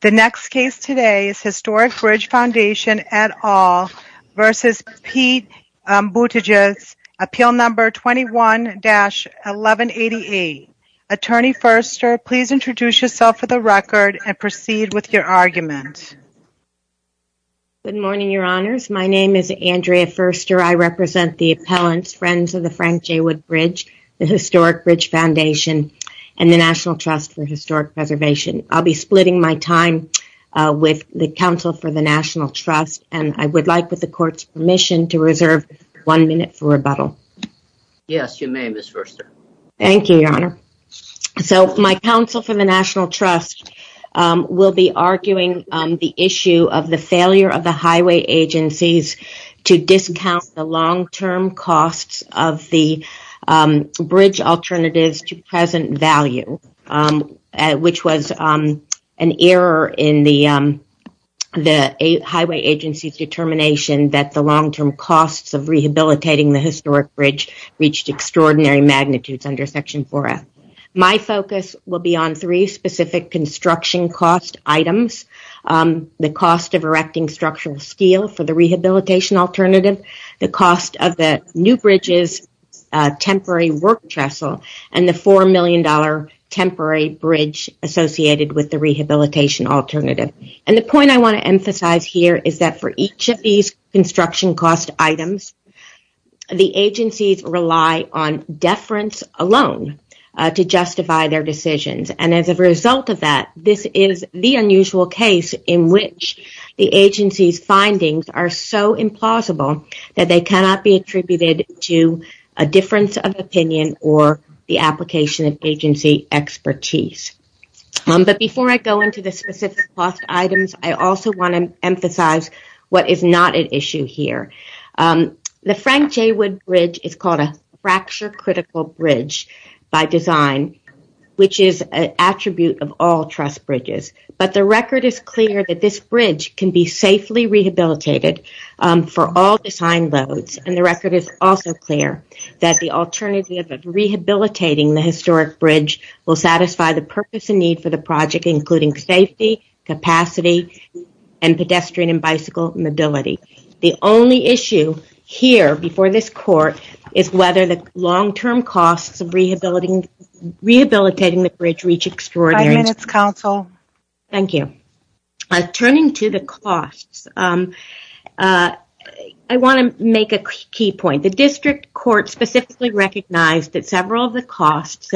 The next case today is Historic Bridge Foundation et al. v. Pete Buttigieg, appeal number 21-1188. Attorney Furster, please introduce yourself for the record and proceed with your argument. Good morning, your honors. My name is Andrea Furster. I represent the appellants, Friends of the Frank J. Wood Bridge, the Historic Bridge Foundation, and the National Trust for Historic Preservation. I'll be splitting my time with the Counsel for the National Trust, and I would like, with the Court's permission, to reserve one minute for rebuttal. Yes, you may, Ms. Furster. Thank you, your honor. So, my Counsel for the National Trust will be arguing the issue of the failure of the highway agencies to discount the long-term costs of the bridge alternatives to present value, which was an error in the highway agency's determination that the long-term costs of rehabilitating the historic bridge reached extraordinary magnitudes under Section 4F. My focus will be on three specific construction cost items, the cost of erecting structural steel for the rehabilitation alternative, the cost of the new bridge's temporary work trestle, and the $4 million temporary bridge associated with the rehabilitation alternative. And the point I want to emphasize here is that for each of these construction cost items, the agencies rely on deference alone to justify their decisions. And as a result of that, this is the unusual case in which the agency's findings are so implausible that they cannot be attributed to a difference of opinion or the application of agency expertise. But before I go into the specific cost items, I also want to emphasize what is not at issue here. The Frank J. Wood Bridge is called a fracture-critical bridge by design, which is an attribute of all trust bridges. But the record is clear that this bridge can be safely rehabilitated for all design loads. And the record is also clear that the alternative of rehabilitating the historic bridge will satisfy the purpose and need for the project, including safety, capacity, and pedestrian and bicycle mobility. The only issue here before this court is whether the long-term costs of rehabilitating the bridge reach extraordinary— Five minutes, counsel. Thank you. Turning to the costs, I want to make a key point. The district court specifically recognized that several of the costs,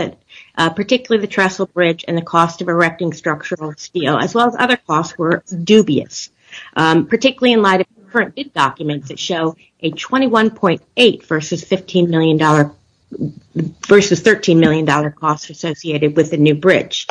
particularly the trestle bridge and the cost of erecting structural steel, as well as other costs, were dubious, particularly in light of the current bid documents that show a $21.8 million versus $13 million cost associated with the new bridge.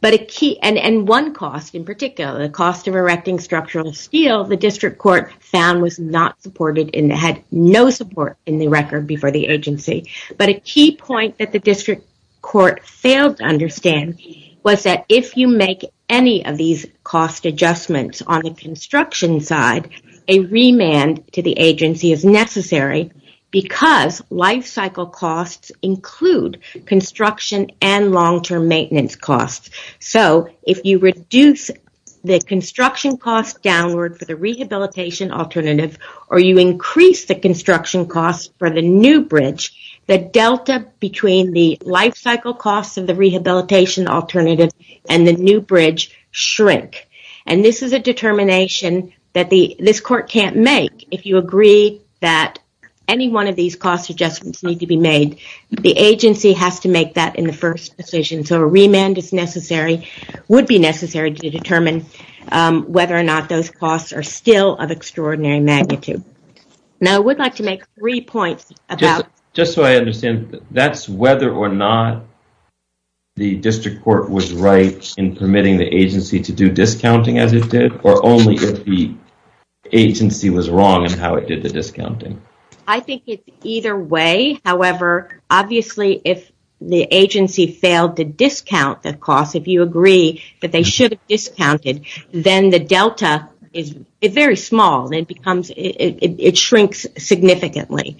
And one cost in particular, the cost of erecting structural steel, the district court found was not supported and had no support in the record before the agency. But a key point that the district court failed to understand was that if you make any of these cost adjustments on the construction side, a remand to the agency is necessary because lifecycle costs include construction and long-term maintenance costs. So, if you reduce the construction costs downward for the rehabilitation alternative or you increase the construction costs for the new bridge, the delta between the lifecycle costs of the rehabilitation alternative and the new bridge shrink. And this is a determination that this court can't make. If you agree that any one of these cost adjustments need to be made, the agency has to make that in the first decision. So, a remand is necessary, would be necessary to determine whether or not those costs are still of extraordinary magnitude. Now, I would like to make three points about- I think it's either way. However, obviously, if the agency failed to discount the cost, if you agree that they should have discounted, then the delta is very small. It shrinks significantly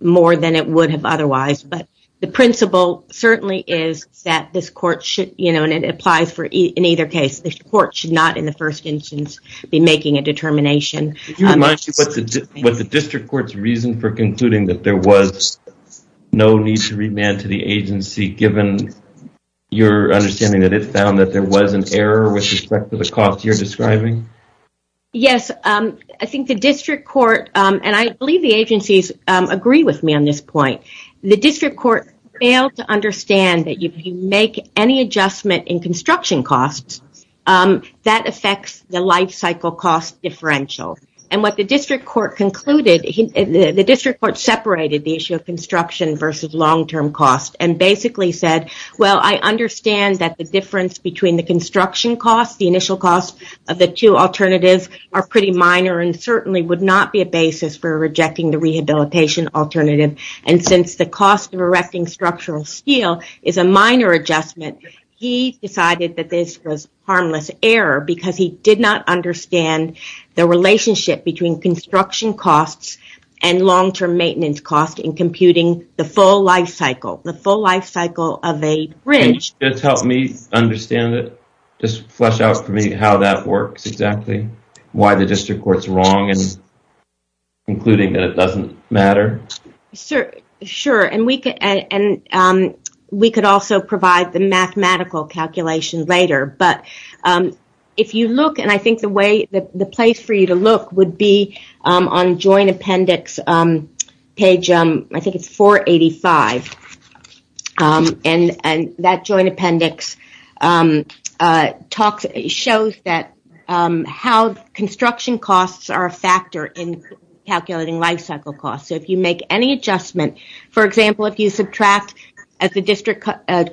more than it would have otherwise. But the principle certainly is that this court should, you know, and it applies in either case, this court should not in the first instance be making a determination. Could you remind me what the district court's reason for concluding that there was no need to remand to the agency, given your understanding that it found that there was an error with respect to the cost you're describing? Yes, I think the district court, and I believe the agencies agree with me on this point. The district court failed to understand that if you make any adjustment in construction costs, that affects the lifecycle cost differential. And what the district court concluded, the district court separated the issue of construction versus long-term cost and basically said, well, I understand that the difference between the construction cost, the initial cost of the two alternatives are pretty minor and certainly would not be a basis for rejecting the rehabilitation alternative. And since the cost of erecting structural steel is a minor adjustment, he decided that this was harmless error because he did not understand the relationship between construction costs and long-term maintenance costs in computing the full lifecycle. Can you just help me understand it? Just flesh out for me how that works exactly, why the district court's wrong in concluding that it doesn't matter? Sure, and we could also provide the mathematical calculation later. But if you look, and I think the place for you to look would be on joint appendix page, I think it's 485. And that joint appendix shows that how construction costs are a factor in calculating lifecycle costs. So if you make any adjustment, for example, if you subtract, as the district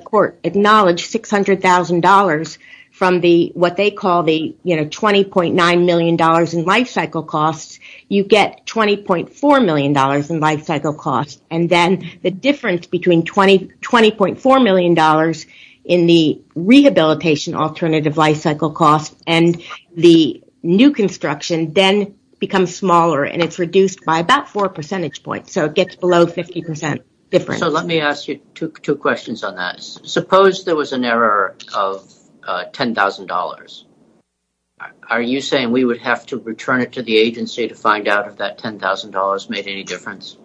court acknowledged, $600,000 from what they call the $20.9 million in lifecycle costs, you get $20.4 million in lifecycle costs. And then the difference between $20.4 million in the rehabilitation alternative lifecycle costs and the new construction then becomes smaller and it's reduced by about four percentage points. So it gets below 50% difference. So let me ask you two questions on that. Suppose there was an error of $10,000. Are you saying we would have to return it to the agency to find out if that $10,000 made any difference?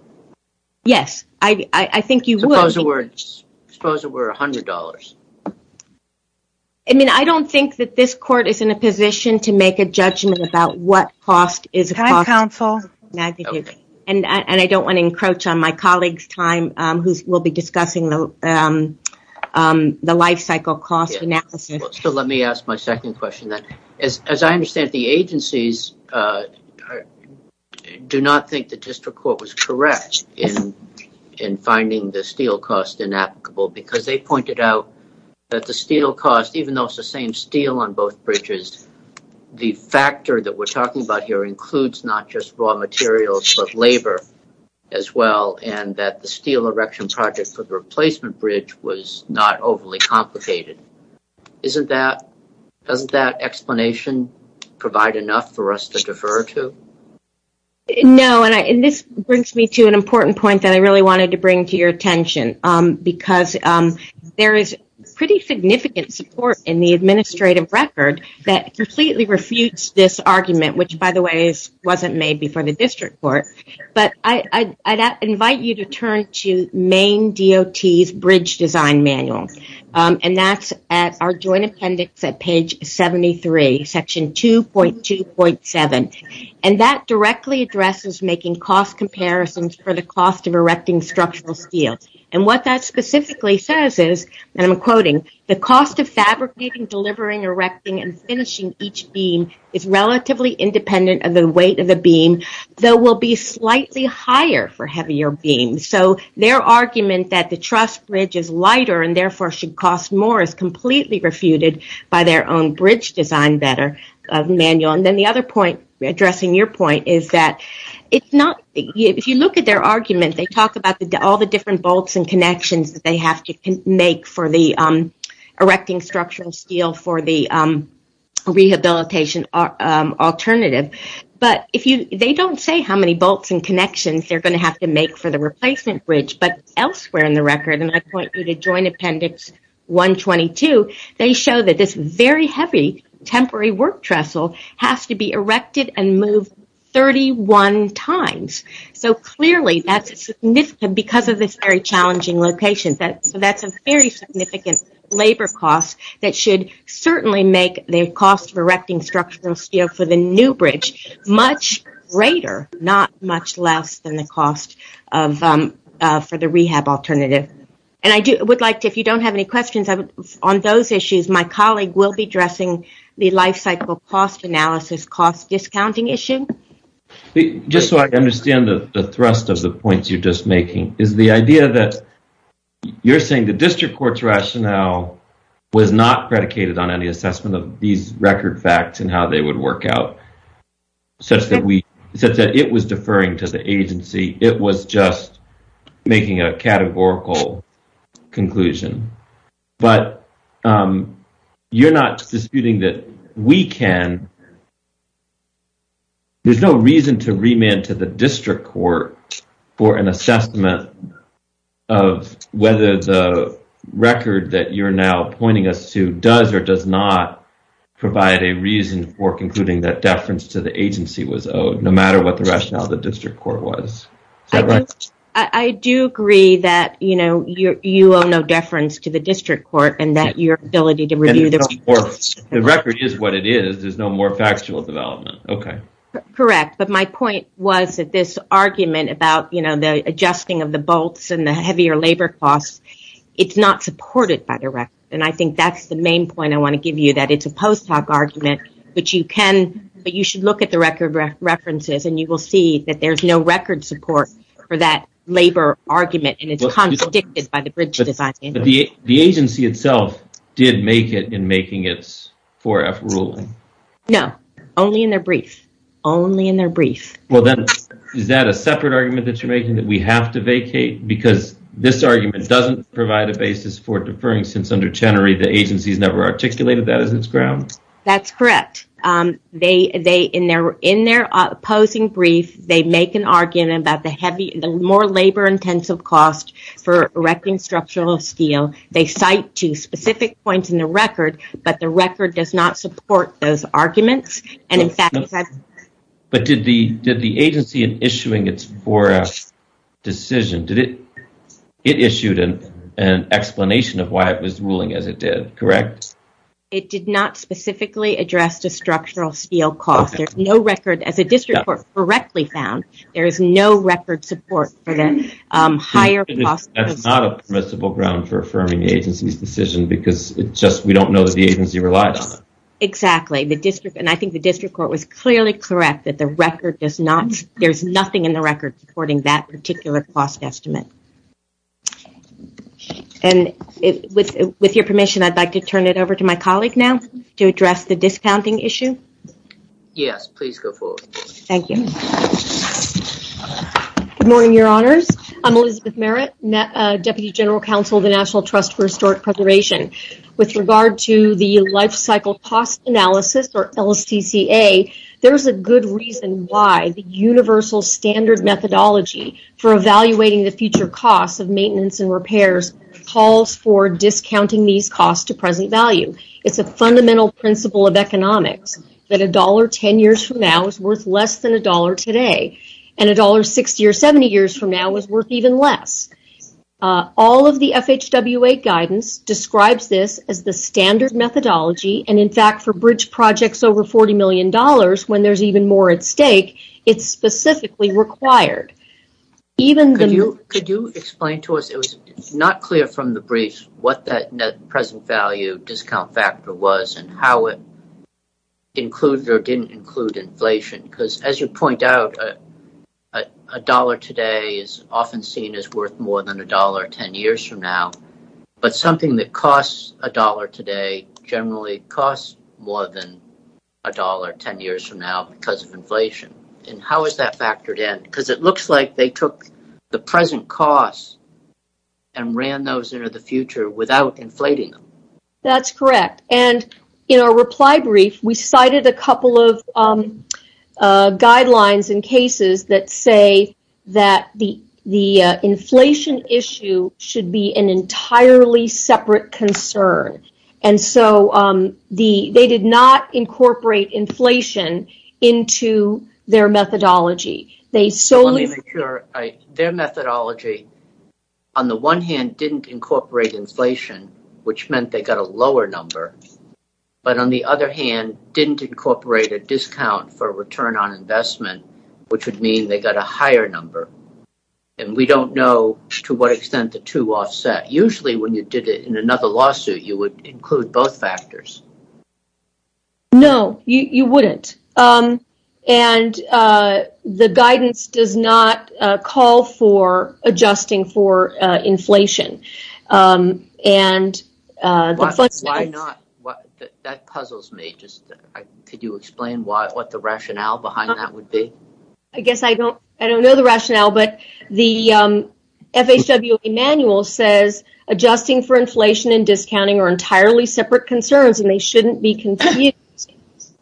Yes, I think you would. Suppose it were $100. I mean, I don't think that this court is in a position to make a judgment about what cost is a cost. Can I counsel? And I don't want to encroach on my colleague's time, who will be discussing the lifecycle cost analysis. So let me ask my second question then. As I understand it, the agencies do not think the district court was correct in finding the steel cost inapplicable because they pointed out that the steel cost, even though it's the same steel on both bridges, the factor that we're talking about here includes not just raw materials but labor as well, and that the steel erection project for the replacement bridge was not overly complicated. Doesn't that explanation provide enough for us to defer to? No, and this brings me to an important point that I really wanted to bring to your attention, because there is pretty significant support in the administrative record that completely refutes this argument, which, by the way, wasn't made before the district court. But I'd invite you to turn to Maine DOT's bridge design manual, and that's at our joint appendix at page 73, section 2.2.7. And that directly addresses making cost comparisons for the cost of erecting structural steel. And what that specifically says is, and I'm quoting, the cost of fabricating, delivering, erecting, and finishing each beam is relatively independent of the weight of the beam, though will be slightly higher for heavier beams. So their argument that the truss bridge is lighter and therefore should cost more is completely refuted by their own bridge design manual. And then the other point, addressing your point, is that if you look at their argument, they talk about all the different bolts and connections that they have to make for erecting structural steel for the rehabilitation alternative. But they don't say how many bolts and connections they're going to have to make for the replacement bridge. But elsewhere in the record, and I point you to joint appendix 122, they show that this very heavy temporary work trestle has to be erected and moved 31 times. So clearly that's significant because of this very challenging location. So that's a very significant labor cost that should certainly make the cost of erecting structural steel for the new bridge much greater, not much less than the cost for the rehab alternative. And I would like to, if you don't have any questions on those issues, my colleague will be addressing the life cycle cost analysis cost discounting issue. Just so I understand the thrust of the points you're just making, is the idea that you're saying the district court's rationale was not predicated on any assessment of these record facts and how they would work out, such that it was deferring to the agency, it was just making a categorical conclusion. But you're not disputing that we can. There's no reason to remand to the district court for an assessment of whether the record that you're now pointing us to does or does not provide a reason for concluding that deference to the agency was owed, no matter what the rationale of the district court was. I do agree that you owe no deference to the district court and that your ability to review the record is what it is. There's no more factual development. Correct. But my point was that this argument about the adjusting of the bolts and the heavier labor costs, it's not supported by the record. I think that's the main point I want to give you, that it's a post hoc argument, but you should look at the record references and you will see that there's no record support for that labor argument and it's contradicted by the bridge design. The agency itself did make it in making its 4F ruling. No, only in their brief. Is that a separate argument that you're making, that we have to vacate? Because this argument doesn't provide a basis for deferring since under Chenery, the agency's never articulated that as its ground? That's correct. In their opposing brief, they make an argument about the more labor-intensive cost for erecting structural steel. They cite two specific points in the record, but the record does not support those arguments. But did the agency in issuing its 4F decision, it issued an explanation of why it was ruling as it did, correct? It did not specifically address the structural steel cost. As the district court correctly found, there is no record support for the higher cost. That's not a permissible ground for affirming the agency's decision because we don't know that the agency relied on it. Exactly, and I think the district court was clearly correct that there's nothing in the record supporting that particular cost estimate. With your permission, I'd like to turn it over to my colleague now to address the discounting issue. Yes, please go forward. Thank you. Good morning, Your Honors. I'm Elizabeth Merritt, Deputy General Counsel of the National Trust for Historic Preservation. With regard to the Life Cycle Cost Analysis, or LSTCA, there's a good reason why the universal standard methodology for evaluating the future costs of maintenance and repairs calls for discounting these costs to present value. It's a fundamental principle of economics that $1.10 years from now is worth less than $1 today, and $1.60 or $1.70 years from now is worth even less. All of the FHWA guidance describes this as the standard methodology, and in fact, for bridge projects over $40 million, when there's even more at stake, it's specifically required. Could you explain to us, it was not clear from the briefs, what that present value discount factor was and how it included or didn't include inflation? Because as you point out, $1 today is often seen as worth more than $1.10 years from now, but something that costs $1 today generally costs more than $1.10 years from now because of inflation. How is that factored in? It looks like they took the present costs and ran those into the future without inflating them. That's correct. In our reply brief, we cited a couple of guidelines and cases that say that the inflation issue should be an entirely separate concern. They did not incorporate inflation into their methodology. Let me make sure. Their methodology, on the one hand, didn't incorporate inflation, which meant they got a lower number, but on the other hand, didn't incorporate a discount for return on investment, which would mean they got a higher number. We don't know to what extent the two offset. Usually, when you did it in another lawsuit, you would include both factors. No, you wouldn't. The guidance does not call for adjusting for inflation. Why not? That puzzles me. Could you explain what the rationale behind that would be? I guess I don't know the rationale, but the FHWA manual says adjusting for inflation and discounting are entirely separate concerns and they shouldn't be continued.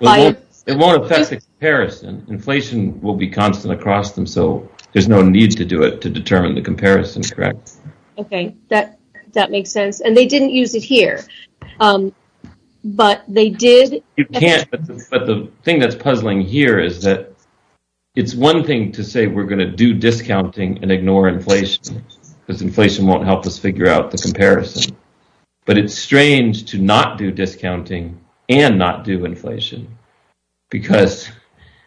It won't affect the comparison. Inflation will be constant across them, so there's no need to do it to determine the comparison, correct? Okay, that makes sense. They didn't use it here, but they did. You can't, but the thing that's puzzling here is that it's one thing to say we're going to do discounting and ignore inflation, because inflation won't help us figure out the comparison, but it's strange to not do discounting and not do inflation.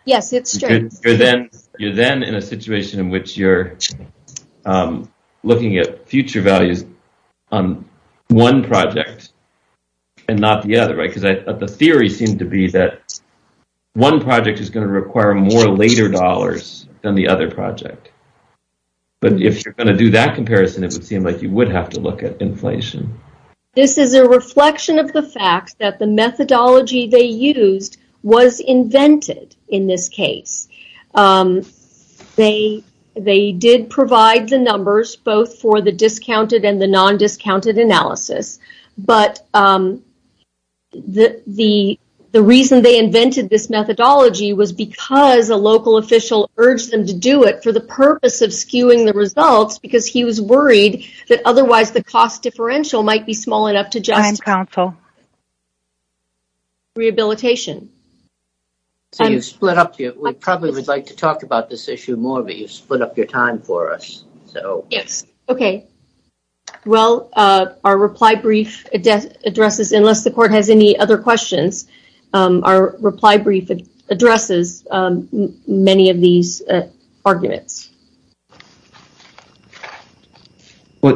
Yes, it's strange. You're then in a situation in which you're looking at future values on one project and not the other, right? The theory seemed to be that one project is going to require more later dollars than the other project, but if you're going to do that comparison, it would seem like you would have to look at inflation. This is a reflection of the fact that the methodology they used was invented in this case. They did provide the numbers both for the discounted and the non-discounted analysis, but the reason they invented this methodology was because a local official urged them to do it for the purpose of skewing the results because he was worried that otherwise the cost differential might be small enough to justify rehabilitation. We probably would like to talk about this issue more, but you've split up your time for us. Yes. Okay. Well, our reply brief addresses, unless the court has any other questions, our reply brief addresses many of these arguments.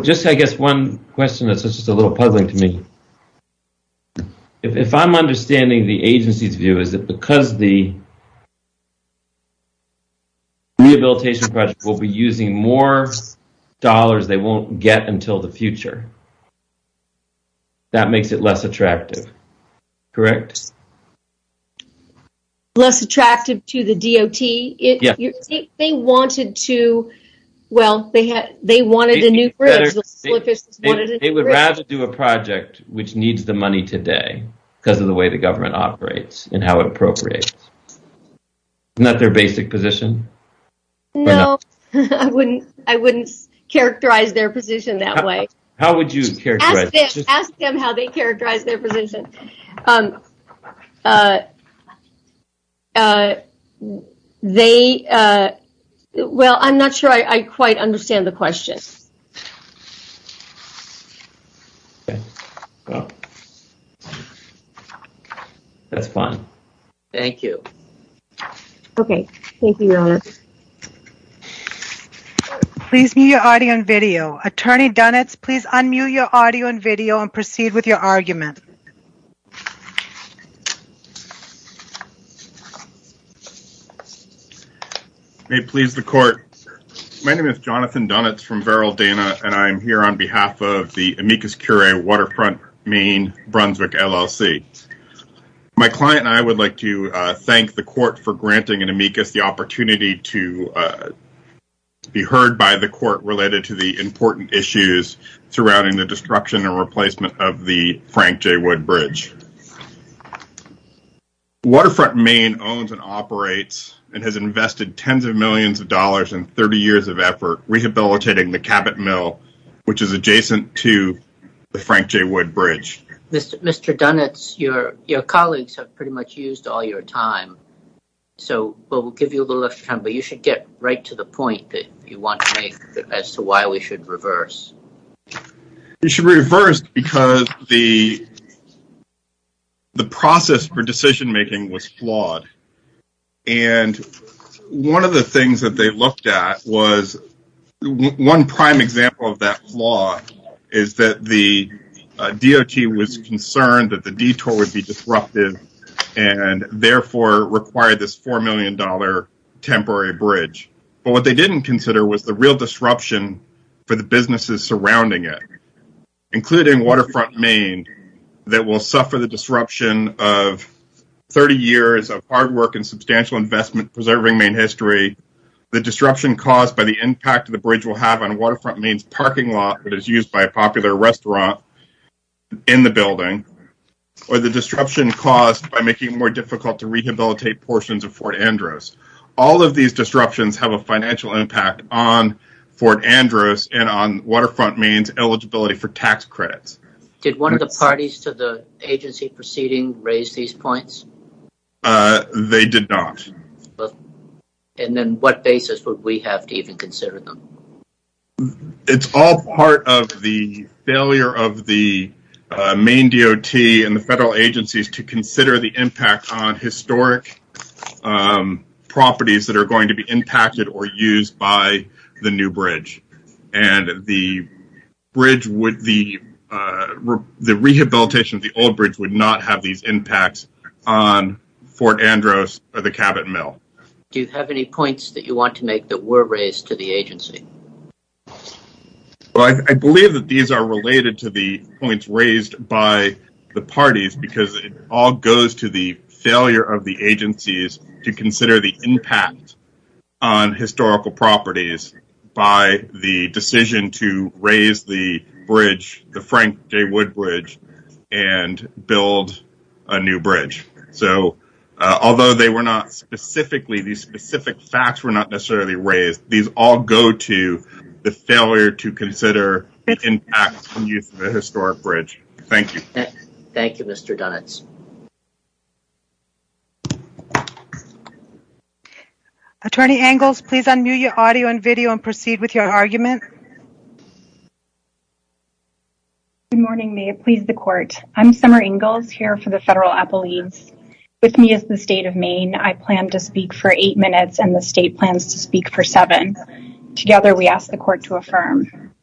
Just I guess one question that's just a little puzzling to me. If I'm understanding the agency's view, is it because the rehabilitation project will be using more dollars they won't get until the future, that makes it less attractive, correct? Less attractive to the DOT? Yes. They wanted a new bridge. They would rather do a project which needs the money today because of the way the government operates and how it appropriates. Isn't that their basic position? No. I wouldn't characterize their position that way. How would you characterize it? Ask them how they characterize their position. Well, I'm not sure I quite understand the question. That's fine. Thank you. Okay. Thank you, Your Honor. Please mute your audio and video. Attorney Dunitz, please unmute your audio and video and proceed with your argument. May it please the court. My name is Jonathan Dunitz from Veraldana, and I'm here on behalf of the Amicus Curia Waterfront, Maine, Brunswick LLC. My client and I would like to thank the court for granting an Amicus the opportunity to be heard by the court related to the important issues surrounding the destruction and replacement of the Frank J. Wood Bridge. Waterfront, Maine, owns and operates and has invested tens of millions of dollars and 30 years of effort rehabilitating the Cabot Mill, which is adjacent to the Frank J. Wood Bridge. Mr. Dunitz, your colleagues have pretty much used all your time, so we'll give you a little extra time, but you should get right to the point that you want to make as to why we should reverse. We should reverse because the process for decision-making was flawed. And one of the things that they looked at was one prime example of that flaw is that the DOT was concerned that the detour would be disruptive and therefore require this $4 million temporary bridge. But what they didn't consider was the real disruption for the businesses surrounding it, including Waterfront, Maine, that will suffer the disruption of 30 years of hard work and substantial investment preserving Maine history, the disruption caused by the impact the bridge will have on Waterfront, Maine's parking lot that is used by a popular restaurant in the building, or the disruption caused by making it more difficult to rehabilitate portions of Fort Andros. All of these disruptions have a financial impact on Fort Andros and on Waterfront, Maine's eligibility for tax credits. Did one of the parties to the agency proceeding raise these points? They did not. And then what basis would we have to even consider them? It's all part of the failure of the Maine DOT and the federal agencies to consider the impact on historic properties that are going to be impacted or used by the new bridge. And the rehabilitation of the old bridge would not have these impacts on Fort Andros or the Cabot Mill. Do you have any points that you want to make that were raised to the agency? Well, I believe that these are related to the points raised by the parties because it all goes to the failure of the agencies to consider the impact on historical properties by the decision to raise the bridge, the Frank J. Wood Bridge, and build a new bridge. So, although these specific facts were not necessarily raised, these all go to the failure to consider the impact on use of the historic bridge. Thank you. Thank you, Mr. Dunitz. Attorney Ingalls, please unmute your audio and video and proceed with your argument. Good morning. May it please the court. I'm Summer Ingalls here for the Federal Appellees. With me is the state of Maine. I plan to speak for eight minutes and the state plans to speak for seven. Together, we ask the court to affirm.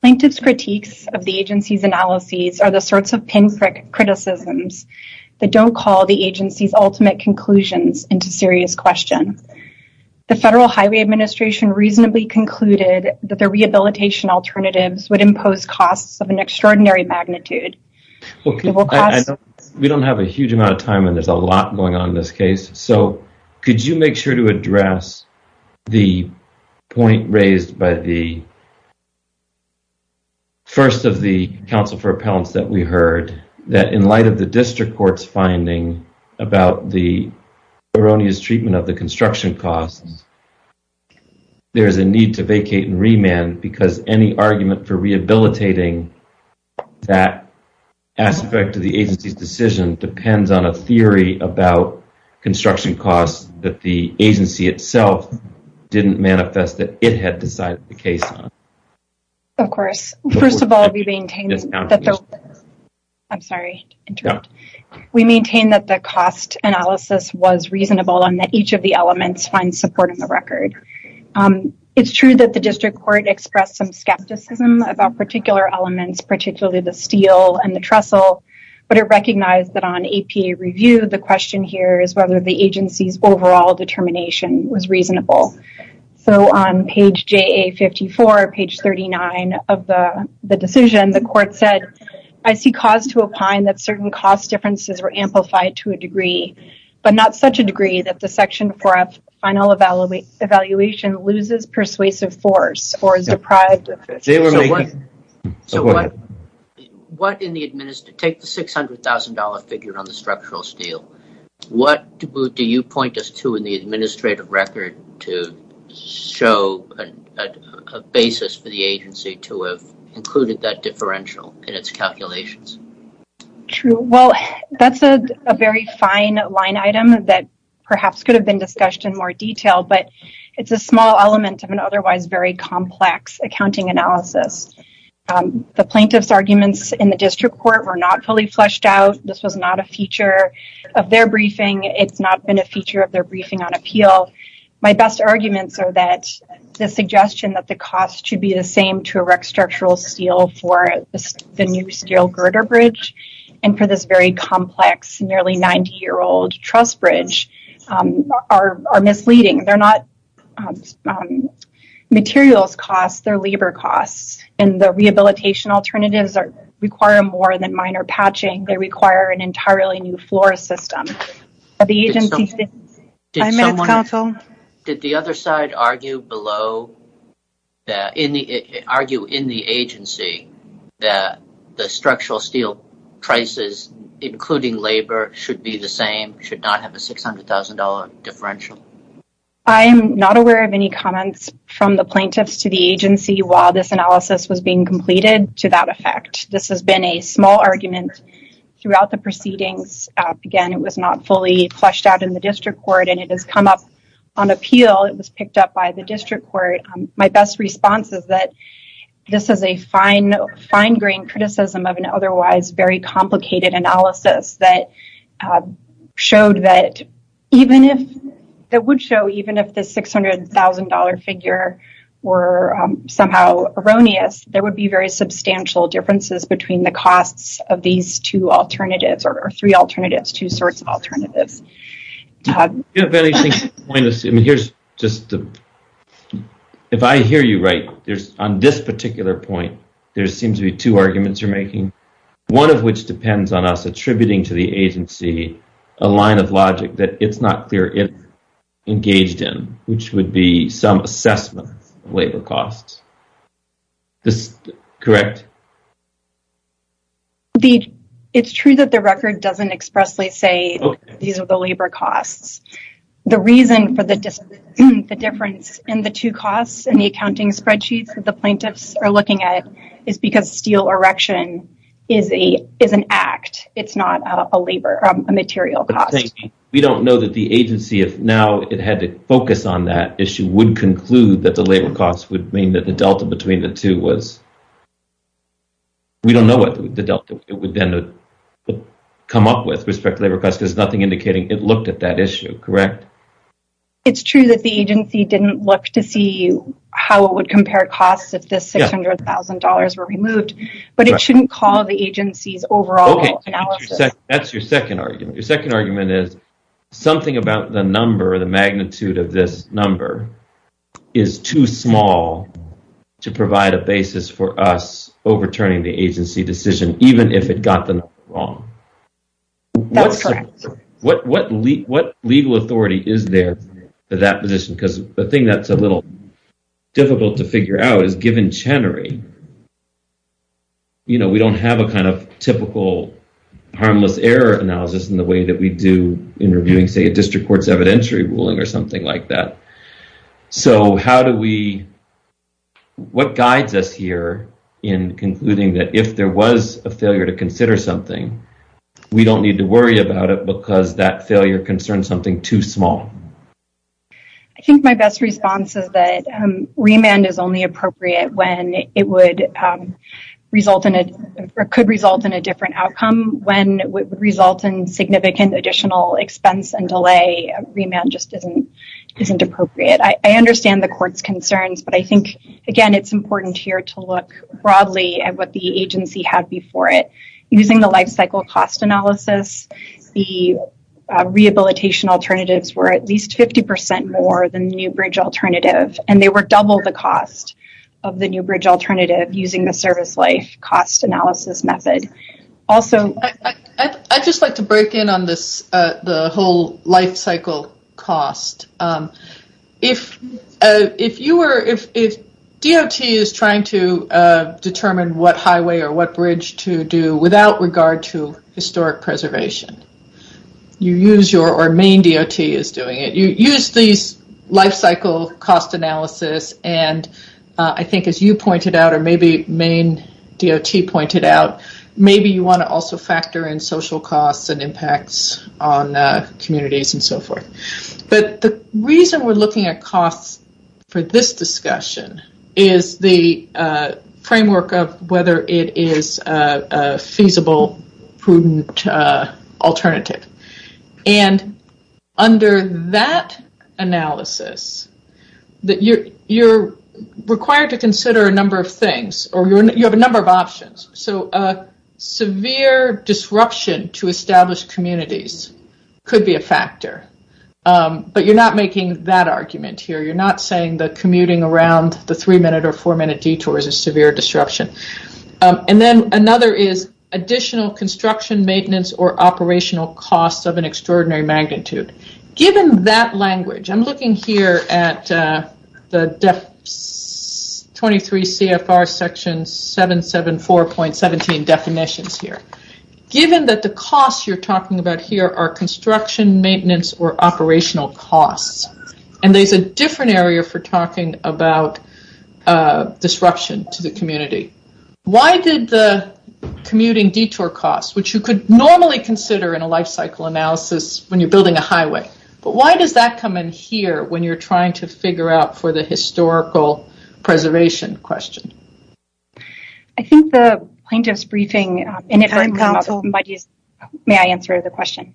Plaintiff's critiques of the agency's analyses are the sorts of pinprick criticisms that don't call the agency's ultimate conclusions into serious question. The Federal Highway Administration reasonably concluded that the rehabilitation alternatives would impose costs of an extraordinary magnitude. We don't have a huge amount of time and there's a lot going on in this case. So, could you make sure to address the point raised by the first of the counsel for appellants that we heard that in light of the district court's finding about the erroneous treatment of the construction costs, there's a need to vacate and remand because any argument for rehabilitating that aspect of the agency's decision depends on a theory about construction costs that the agency itself didn't manifest that it had decided the case on. Of course. First of all, we maintain that the cost analysis was reasonable and that each of the elements find support in the record. It's true that the district court expressed some skepticism about particular elements, particularly the steel and the trestle, but it recognized that on APA review, the question here is whether the agency's overall determination was reasonable. So, on page JA54, page 39 of the decision, the court said, I see cause to opine that certain cost differences were amplified to a degree, but not such a degree that the section for a final evaluation loses persuasive force or is deprived of it. Take the $600,000 figure on the structural steel. What do you point us to in the administrative record to show a basis for the agency to have included that differential in its calculations? Well, that's a very fine line item that perhaps could have been discussed in more detail, but it's a small element of an otherwise very complex accounting analysis. The plaintiff's arguments in the district court were not fully fleshed out. This was not a feature of their briefing. It's not been a feature of their briefing on appeal. My best arguments are that the suggestion that the cost should be the same to erect structural steel for the new steel girder bridge and for this very complex, nearly 90-year-old truss bridge are misleading. They're not materials costs. They're labor costs. And the rehabilitation alternatives require more than minor patching. They require an entirely new floor system. Did the other side argue in the agency that the structural steel prices, including labor, should be the same, should not have a $600,000 differential? I am not aware of any comments from the plaintiffs to the agency while this analysis was being completed to that effect. This has been a small argument throughout the proceedings. Again, it was not fully fleshed out in the district court, and it has come up on appeal. It was picked up by the district court. My best response is that this is a fine-grained criticism of an otherwise very complicated analysis that would show even if the $600,000 figure were somehow erroneous, there would be very substantial differences between the costs of these two alternatives, or three alternatives, two sorts of alternatives. If I hear you right, on this particular point, there seems to be two arguments you're making, one of which depends on us attributing to the agency a line of logic that it's not clear if engaged in, which would be some assessment of labor costs. Is this correct? It's true that the record doesn't expressly say these are the labor costs. The reason for the difference in the two costs in the accounting spreadsheets that the plaintiffs are looking at is because steel erection is an act. It's not a material cost. We don't know that the agency, if now it had to focus on that issue, would conclude that the labor costs would mean that the delta between the two was... We don't know what the delta would then come up with with respect to labor costs because there's nothing indicating it looked at that issue, correct? It's true that the agency didn't look to see how it would compare costs if the $600,000 were removed, but it shouldn't call the agency's overall analysis. That's your second argument. Your second argument is something about the number, the magnitude of this number, is too small to provide a basis for us overturning the agency decision, even if it got the number wrong. That's correct. What legal authority is there for that position? Because the thing that's a little difficult to figure out is given Chenery, we don't have a kind of typical harmless error analysis in the way that we do in reviewing, say, a district court's evidentiary ruling or something like that. So how do we... What guides us here in concluding that if there was a failure to consider something, we don't need to worry about it because that failure concerns something too small? I think my best response is that remand is only appropriate when it could result in a different outcome. When it would result in significant additional expense and delay, remand just isn't appropriate. I understand the court's concerns, but I think, again, it's important here to look broadly at what the agency had before it. Using the life cycle cost analysis, the rehabilitation alternatives were at least 50% more than the new bridge alternative, and they were double the cost of the new bridge alternative using the service life cost analysis method. Also... I'd just like to break in on the whole life cycle cost. If DOT is trying to determine what highway or what bridge to do without regard to historic preservation, you use your... or Maine DOT is doing it. You use these life cycle cost analysis, and I think as you pointed out, or maybe Maine DOT pointed out, maybe you want to also factor in social costs and impacts on communities and so forth. The reason we're looking at costs for this discussion is the framework of whether it is a feasible, prudent alternative. Under that analysis, you're required to consider a number of things, or you have a number of options. A severe disruption to established communities could be a factor. But you're not making that argument here. You're not saying that commuting around the three-minute or four-minute detour is a severe disruption. Then another is additional construction, maintenance, or operational costs of an extraordinary magnitude. Given that language... I'm looking here at the 23 CFR section 774.17 definitions here. Given that the costs you're talking about here are construction, maintenance, or operational costs, and there's a different area for talking about disruption to the community. Why did the commuting detour cost, which you could normally consider in a life cycle analysis when you're building a highway, but why does that come in here when you're trying to figure out for the historical preservation question? I think the plaintiff's briefing... May I answer the question?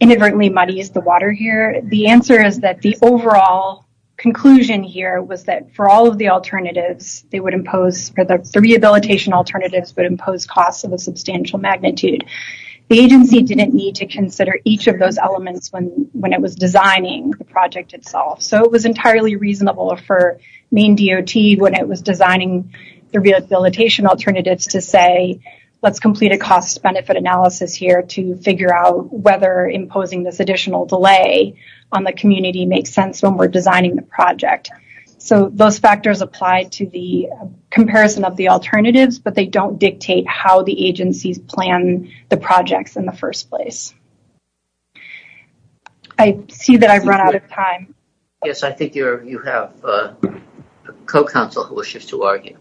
Inadvertently, muddy is the water here. The answer is that the overall conclusion here was that for all of the alternatives, the rehabilitation alternatives would impose costs of a substantial magnitude. The agency didn't need to consider each of those elements when it was designing the project itself. It was entirely reasonable for Maine DOT when it was designing the rehabilitation alternatives to say, let's complete a cost-benefit analysis here to figure out whether imposing this additional delay on the community makes sense when we're designing the project. Those factors apply to the comparison of the alternatives, but they don't dictate how the agencies plan the projects in the first place. I see that I've run out of time. Yes, I think you have a co-counsel who wishes to argue.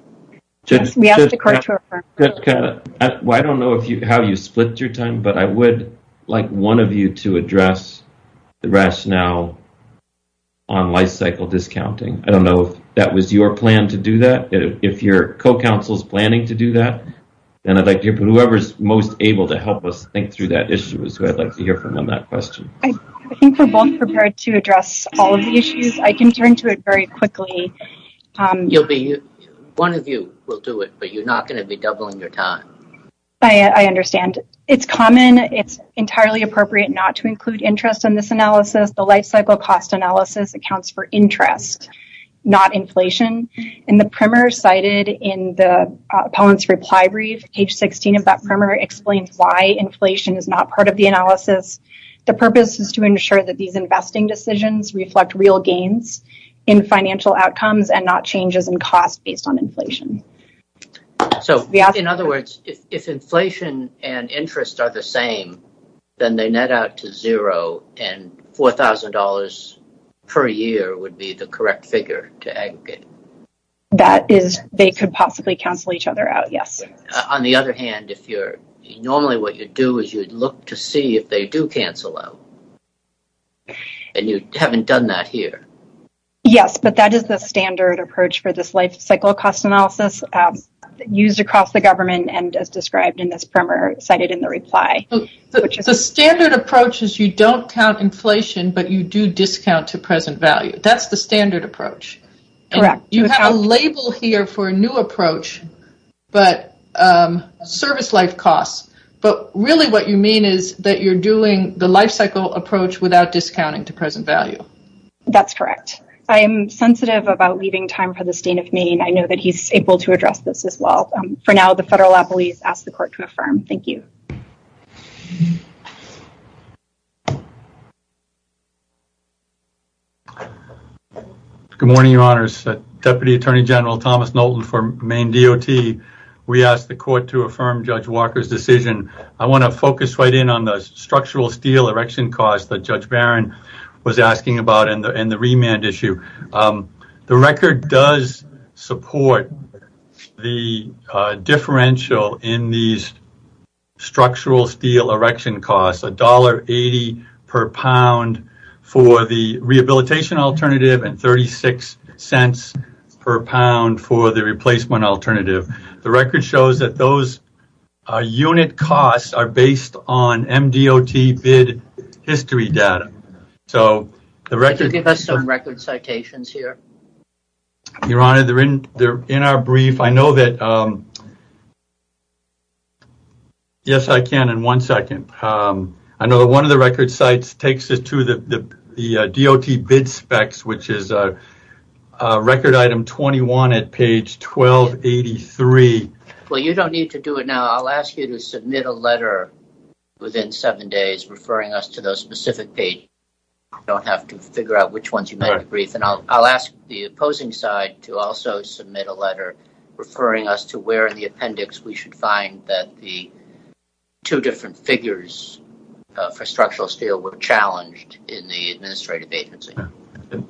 We asked the court to affirm. I don't know how you split your time, but I would like one of you to address the rationale on life-cycle discounting. I don't know if that was your plan to do that. If your co-counsel's planning to do that, then I'd like to hear from whoever's most able to help us think through that issue is who I'd like to hear from on that question. I think we're both prepared to address all of the issues. I can turn to it very quickly. One of you will do it, but you're not going to be doubling your time. I understand. It's common, it's entirely appropriate not to include interest in this analysis. The life-cycle cost analysis accounts for interest, not inflation. In the primer cited in the appellant's reply brief, page 16 of that primer explains why inflation is not part of the analysis. The purpose is to ensure that these investing decisions reflect real gains in financial outcomes and not changes in cost based on inflation. In other words, if inflation and interest are the same, then they net out to zero and $4,000 per year would be the correct figure to aggregate. They could possibly cancel each other out, yes. On the other hand, normally what you'd do is you'd look to see if they do cancel out. And you haven't done that here. Yes, but that is the standard approach for this life-cycle cost analysis used across the government and as described in this primer cited in the reply. The standard approach is you don't count inflation, but you do discount to present value. That's the standard approach. Correct. You have a label here for a new approach, but service life costs. But really what you mean is that you're doing the life-cycle approach without discounting to present value. That's correct. I am sensitive about leaving time for the state of Maine. I know that he's able to address this as well. For now, the federal appellees ask the court to affirm. Thank you. Good morning, Your Honors. Deputy Attorney General Thomas Nolten for Maine DOT. We ask the court to affirm Judge Walker's decision. I want to focus right in on the structural steel erection costs that Judge Barron was asking about and the remand issue. The record does support the differential in these structural steel erection costs, $1.80 per pound for the rehabilitation alternative and $0.36 per pound for the replacement alternative. The record shows that those unit costs are based on MDOT bid history data. So the record... Could you give us some record citations here? Your Honor, they're in our brief. I know that... Yes, I can in one second. I know that one of the record sites takes us to the DOT bid specs, which is record item 21 at page 1283. Well, you don't need to do it now. I'll ask you to submit a letter within seven days referring us to those specific pages. You don't have to figure out which ones you meant in the brief. And I'll ask the opposing side to also submit a letter referring us to where in the appendix we should find that the two different figures for structural steel were challenged in the administrative agency.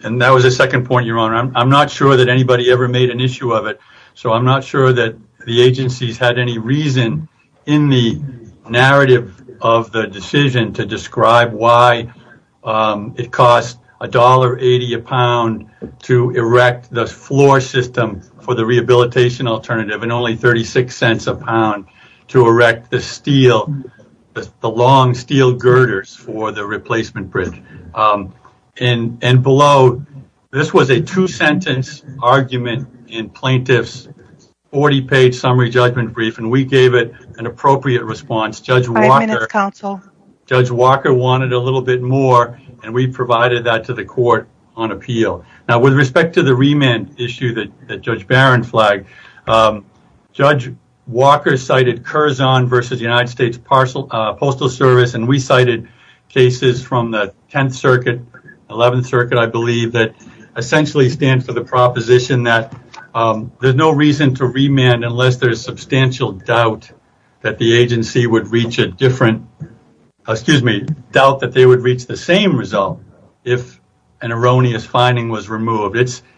And that was the second point, Your Honor. I'm not sure that anybody ever made an issue of it. So I'm not sure that the agencies in the narrative of the decision to describe why it cost $1.80 a pound to erect the floor system for the rehabilitation alternative and only $0.36 a pound to erect the steel, the long steel girders for the replacement bridge. And below, this was a two-sentence argument in plaintiff's 40-page summary judgment brief, and we gave it an appropriate response. Judge Walker... Five minutes, counsel. Judge Walker wanted a little bit more, and we provided that to the court on appeal. Now, with respect to the remand issue that Judge Barron flagged, Judge Walker cited Curzon versus United States Postal Service, and we cited cases from the 10th Circuit, 11th Circuit, I believe, that essentially stand for the proposition that there's no reason to remand unless there's substantial doubt that the agency would reach a different, excuse me, doubt that they would reach the same result if an erroneous finding was removed.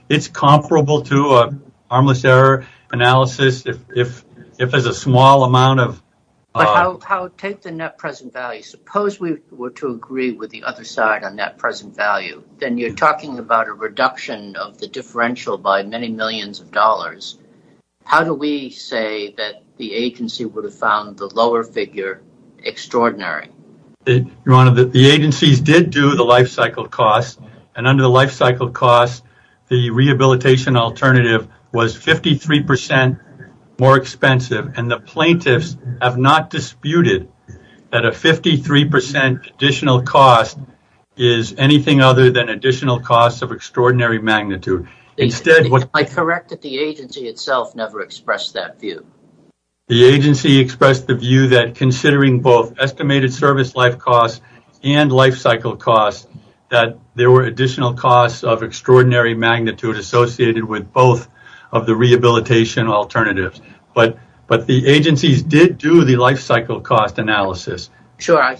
It's comparable to harmless error analysis if there's a small amount of... But how... Take the net present value. Suppose we were to agree with the other side on that present value. Then you're talking about a reduction of the differential by many millions of dollars. How do we say that the agency would have found the lower figure extraordinary? Your Honor, the agencies did do the lifecycle costs, and under the lifecycle costs, the rehabilitation alternative was 53% more expensive, and the plaintiffs have not disputed that a 53% additional cost is anything other than additional costs of extraordinary magnitude. Instead, what... The agency itself never expressed that view. The agency expressed the view that considering both estimated service life costs and lifecycle costs that there were additional costs of extraordinary magnitude associated with both of the rehabilitation alternatives. But the agencies did do the lifecycle cost analysis. Sure.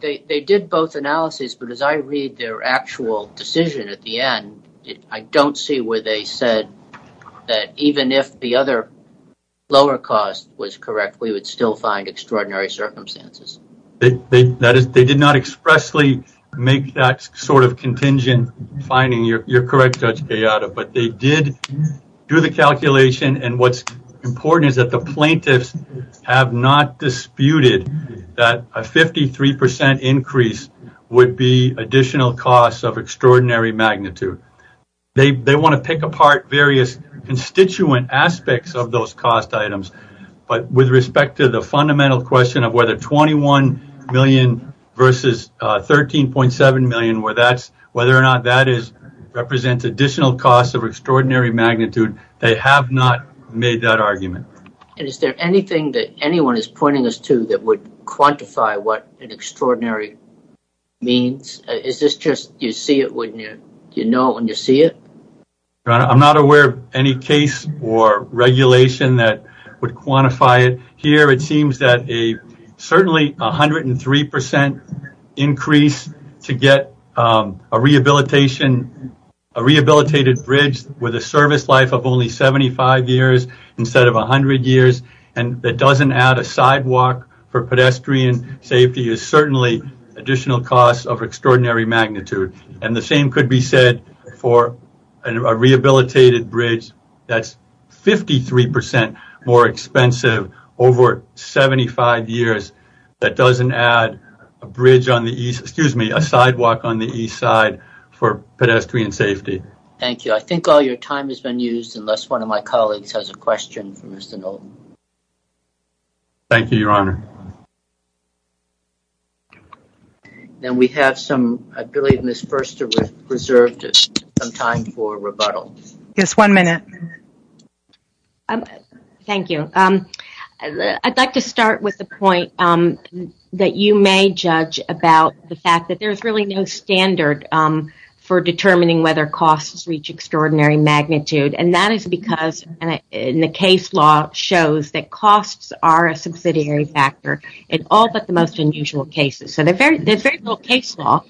They did both analyses, but as I read their actual decision at the end, I don't see where they said that even if the other lower cost was correct, we would still find extraordinary circumstances. They did not expressly make that sort of contingent finding. You're correct, Judge Gallardo, but they did do the calculation, and what's important is that the plaintiffs have not disputed that a 53% increase would be additional costs of extraordinary magnitude. Now, there are subsequent aspects of those cost items, but with respect to the fundamental question of whether 21 million versus 13.7 million, whether or not that represents additional costs of extraordinary magnitude, they have not made that argument. And is there anything that anyone is pointing us to that would quantify what an extraordinary means? Is this just you see it when you know it, and you see it? I'm not aware of any case or regulation that would quantify it. Here, it seems that a certainly 103% increase to get a rehabilitation, a rehabilitated bridge with a service life of only 75 years instead of 100 years that doesn't add a sidewalk for pedestrian safety is certainly additional costs of extraordinary magnitude. And the same could be said for a rehabilitated bridge that's 53% more expensive over 75 years that doesn't add a bridge on the east, excuse me, a sidewalk on the east side for pedestrian safety. Thank you. I think all your time has been used unless one of my colleagues has a question for Mr. Nolten. Thank you, Your Honor. Then we have some, I believe Ms. Furster reserved some time for rebuttal. Yes, one minute. Thank you. I'd like to start with the point that you may judge about the fact that there's really no standard for determining whether costs reach extraordinary magnitude. And that is because in the case law shows that costs are a subsidiary factor in all but the most unusual cases. So there's very little case law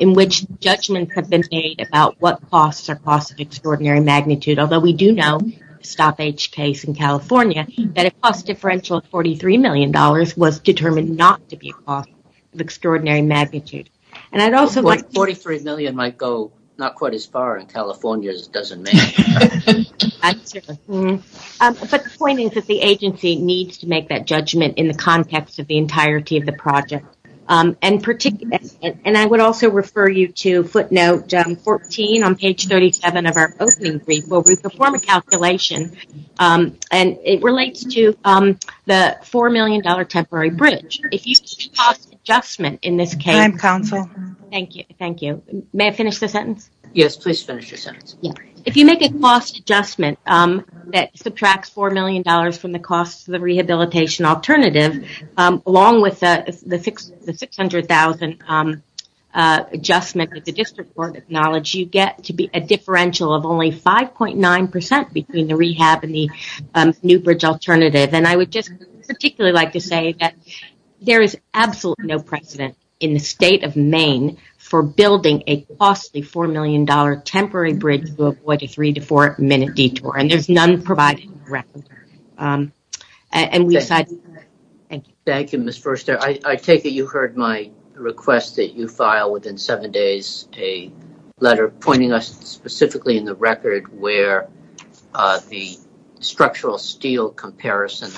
in which judgments have been made about what costs are costs of extraordinary magnitude. Although we do know stoppage case in California that a cost differential of $43 million was determined not to be a cost of extraordinary magnitude. And I'd also like... $43 million might go not quite as far in California as it does in Maine. But the point is that the agency needs to make that judgment in the context of the entirety of the project. And I would also refer you to footnote 14 on page 37 of our opening brief where we perform a calculation and it relates to the $4 million temporary bridge. If you see cost adjustment in this case... I'm counsel. Thank you. May I finish the sentence? Yes, please finish your sentence. If you make a cost adjustment that subtracts $4 million from the cost of the rehabilitation alternative along with the $600,000 adjustment that the district board acknowledged, you get to be a differential of only 5.9% between the rehab and the new bridge alternative. And I would just particularly like to say that there is absolutely no precedent in the state of Maine for building a costly $4 million temporary bridge to avoid a three to four minute detour. And there's none provided in the record. Thank you. Thank you, Ms. Furster. I take it you heard my request that you file within seven days a letter pointing us specifically in the record where the structural steel comparison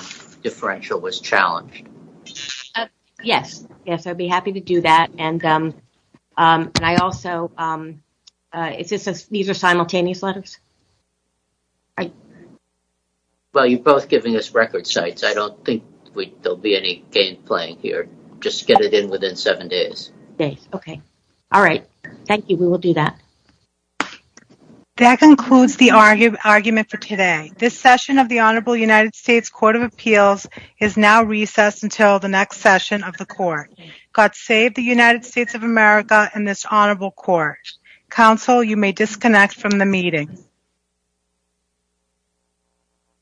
differential was challenged. Yes. Yes, I'd be happy to do that. And I also... Is this a... These are simultaneous letters? Well, you're both giving us record sites. I don't think there'll be any game playing here. Just get it in seven days. Okay. All right. Thank you. We will do that. That concludes the argument for today. This session of the Honorable United States Court of Appeals is now recessed until the next session of the court. God save the United States of America and this honorable court. Counsel, you may disconnect from the meeting.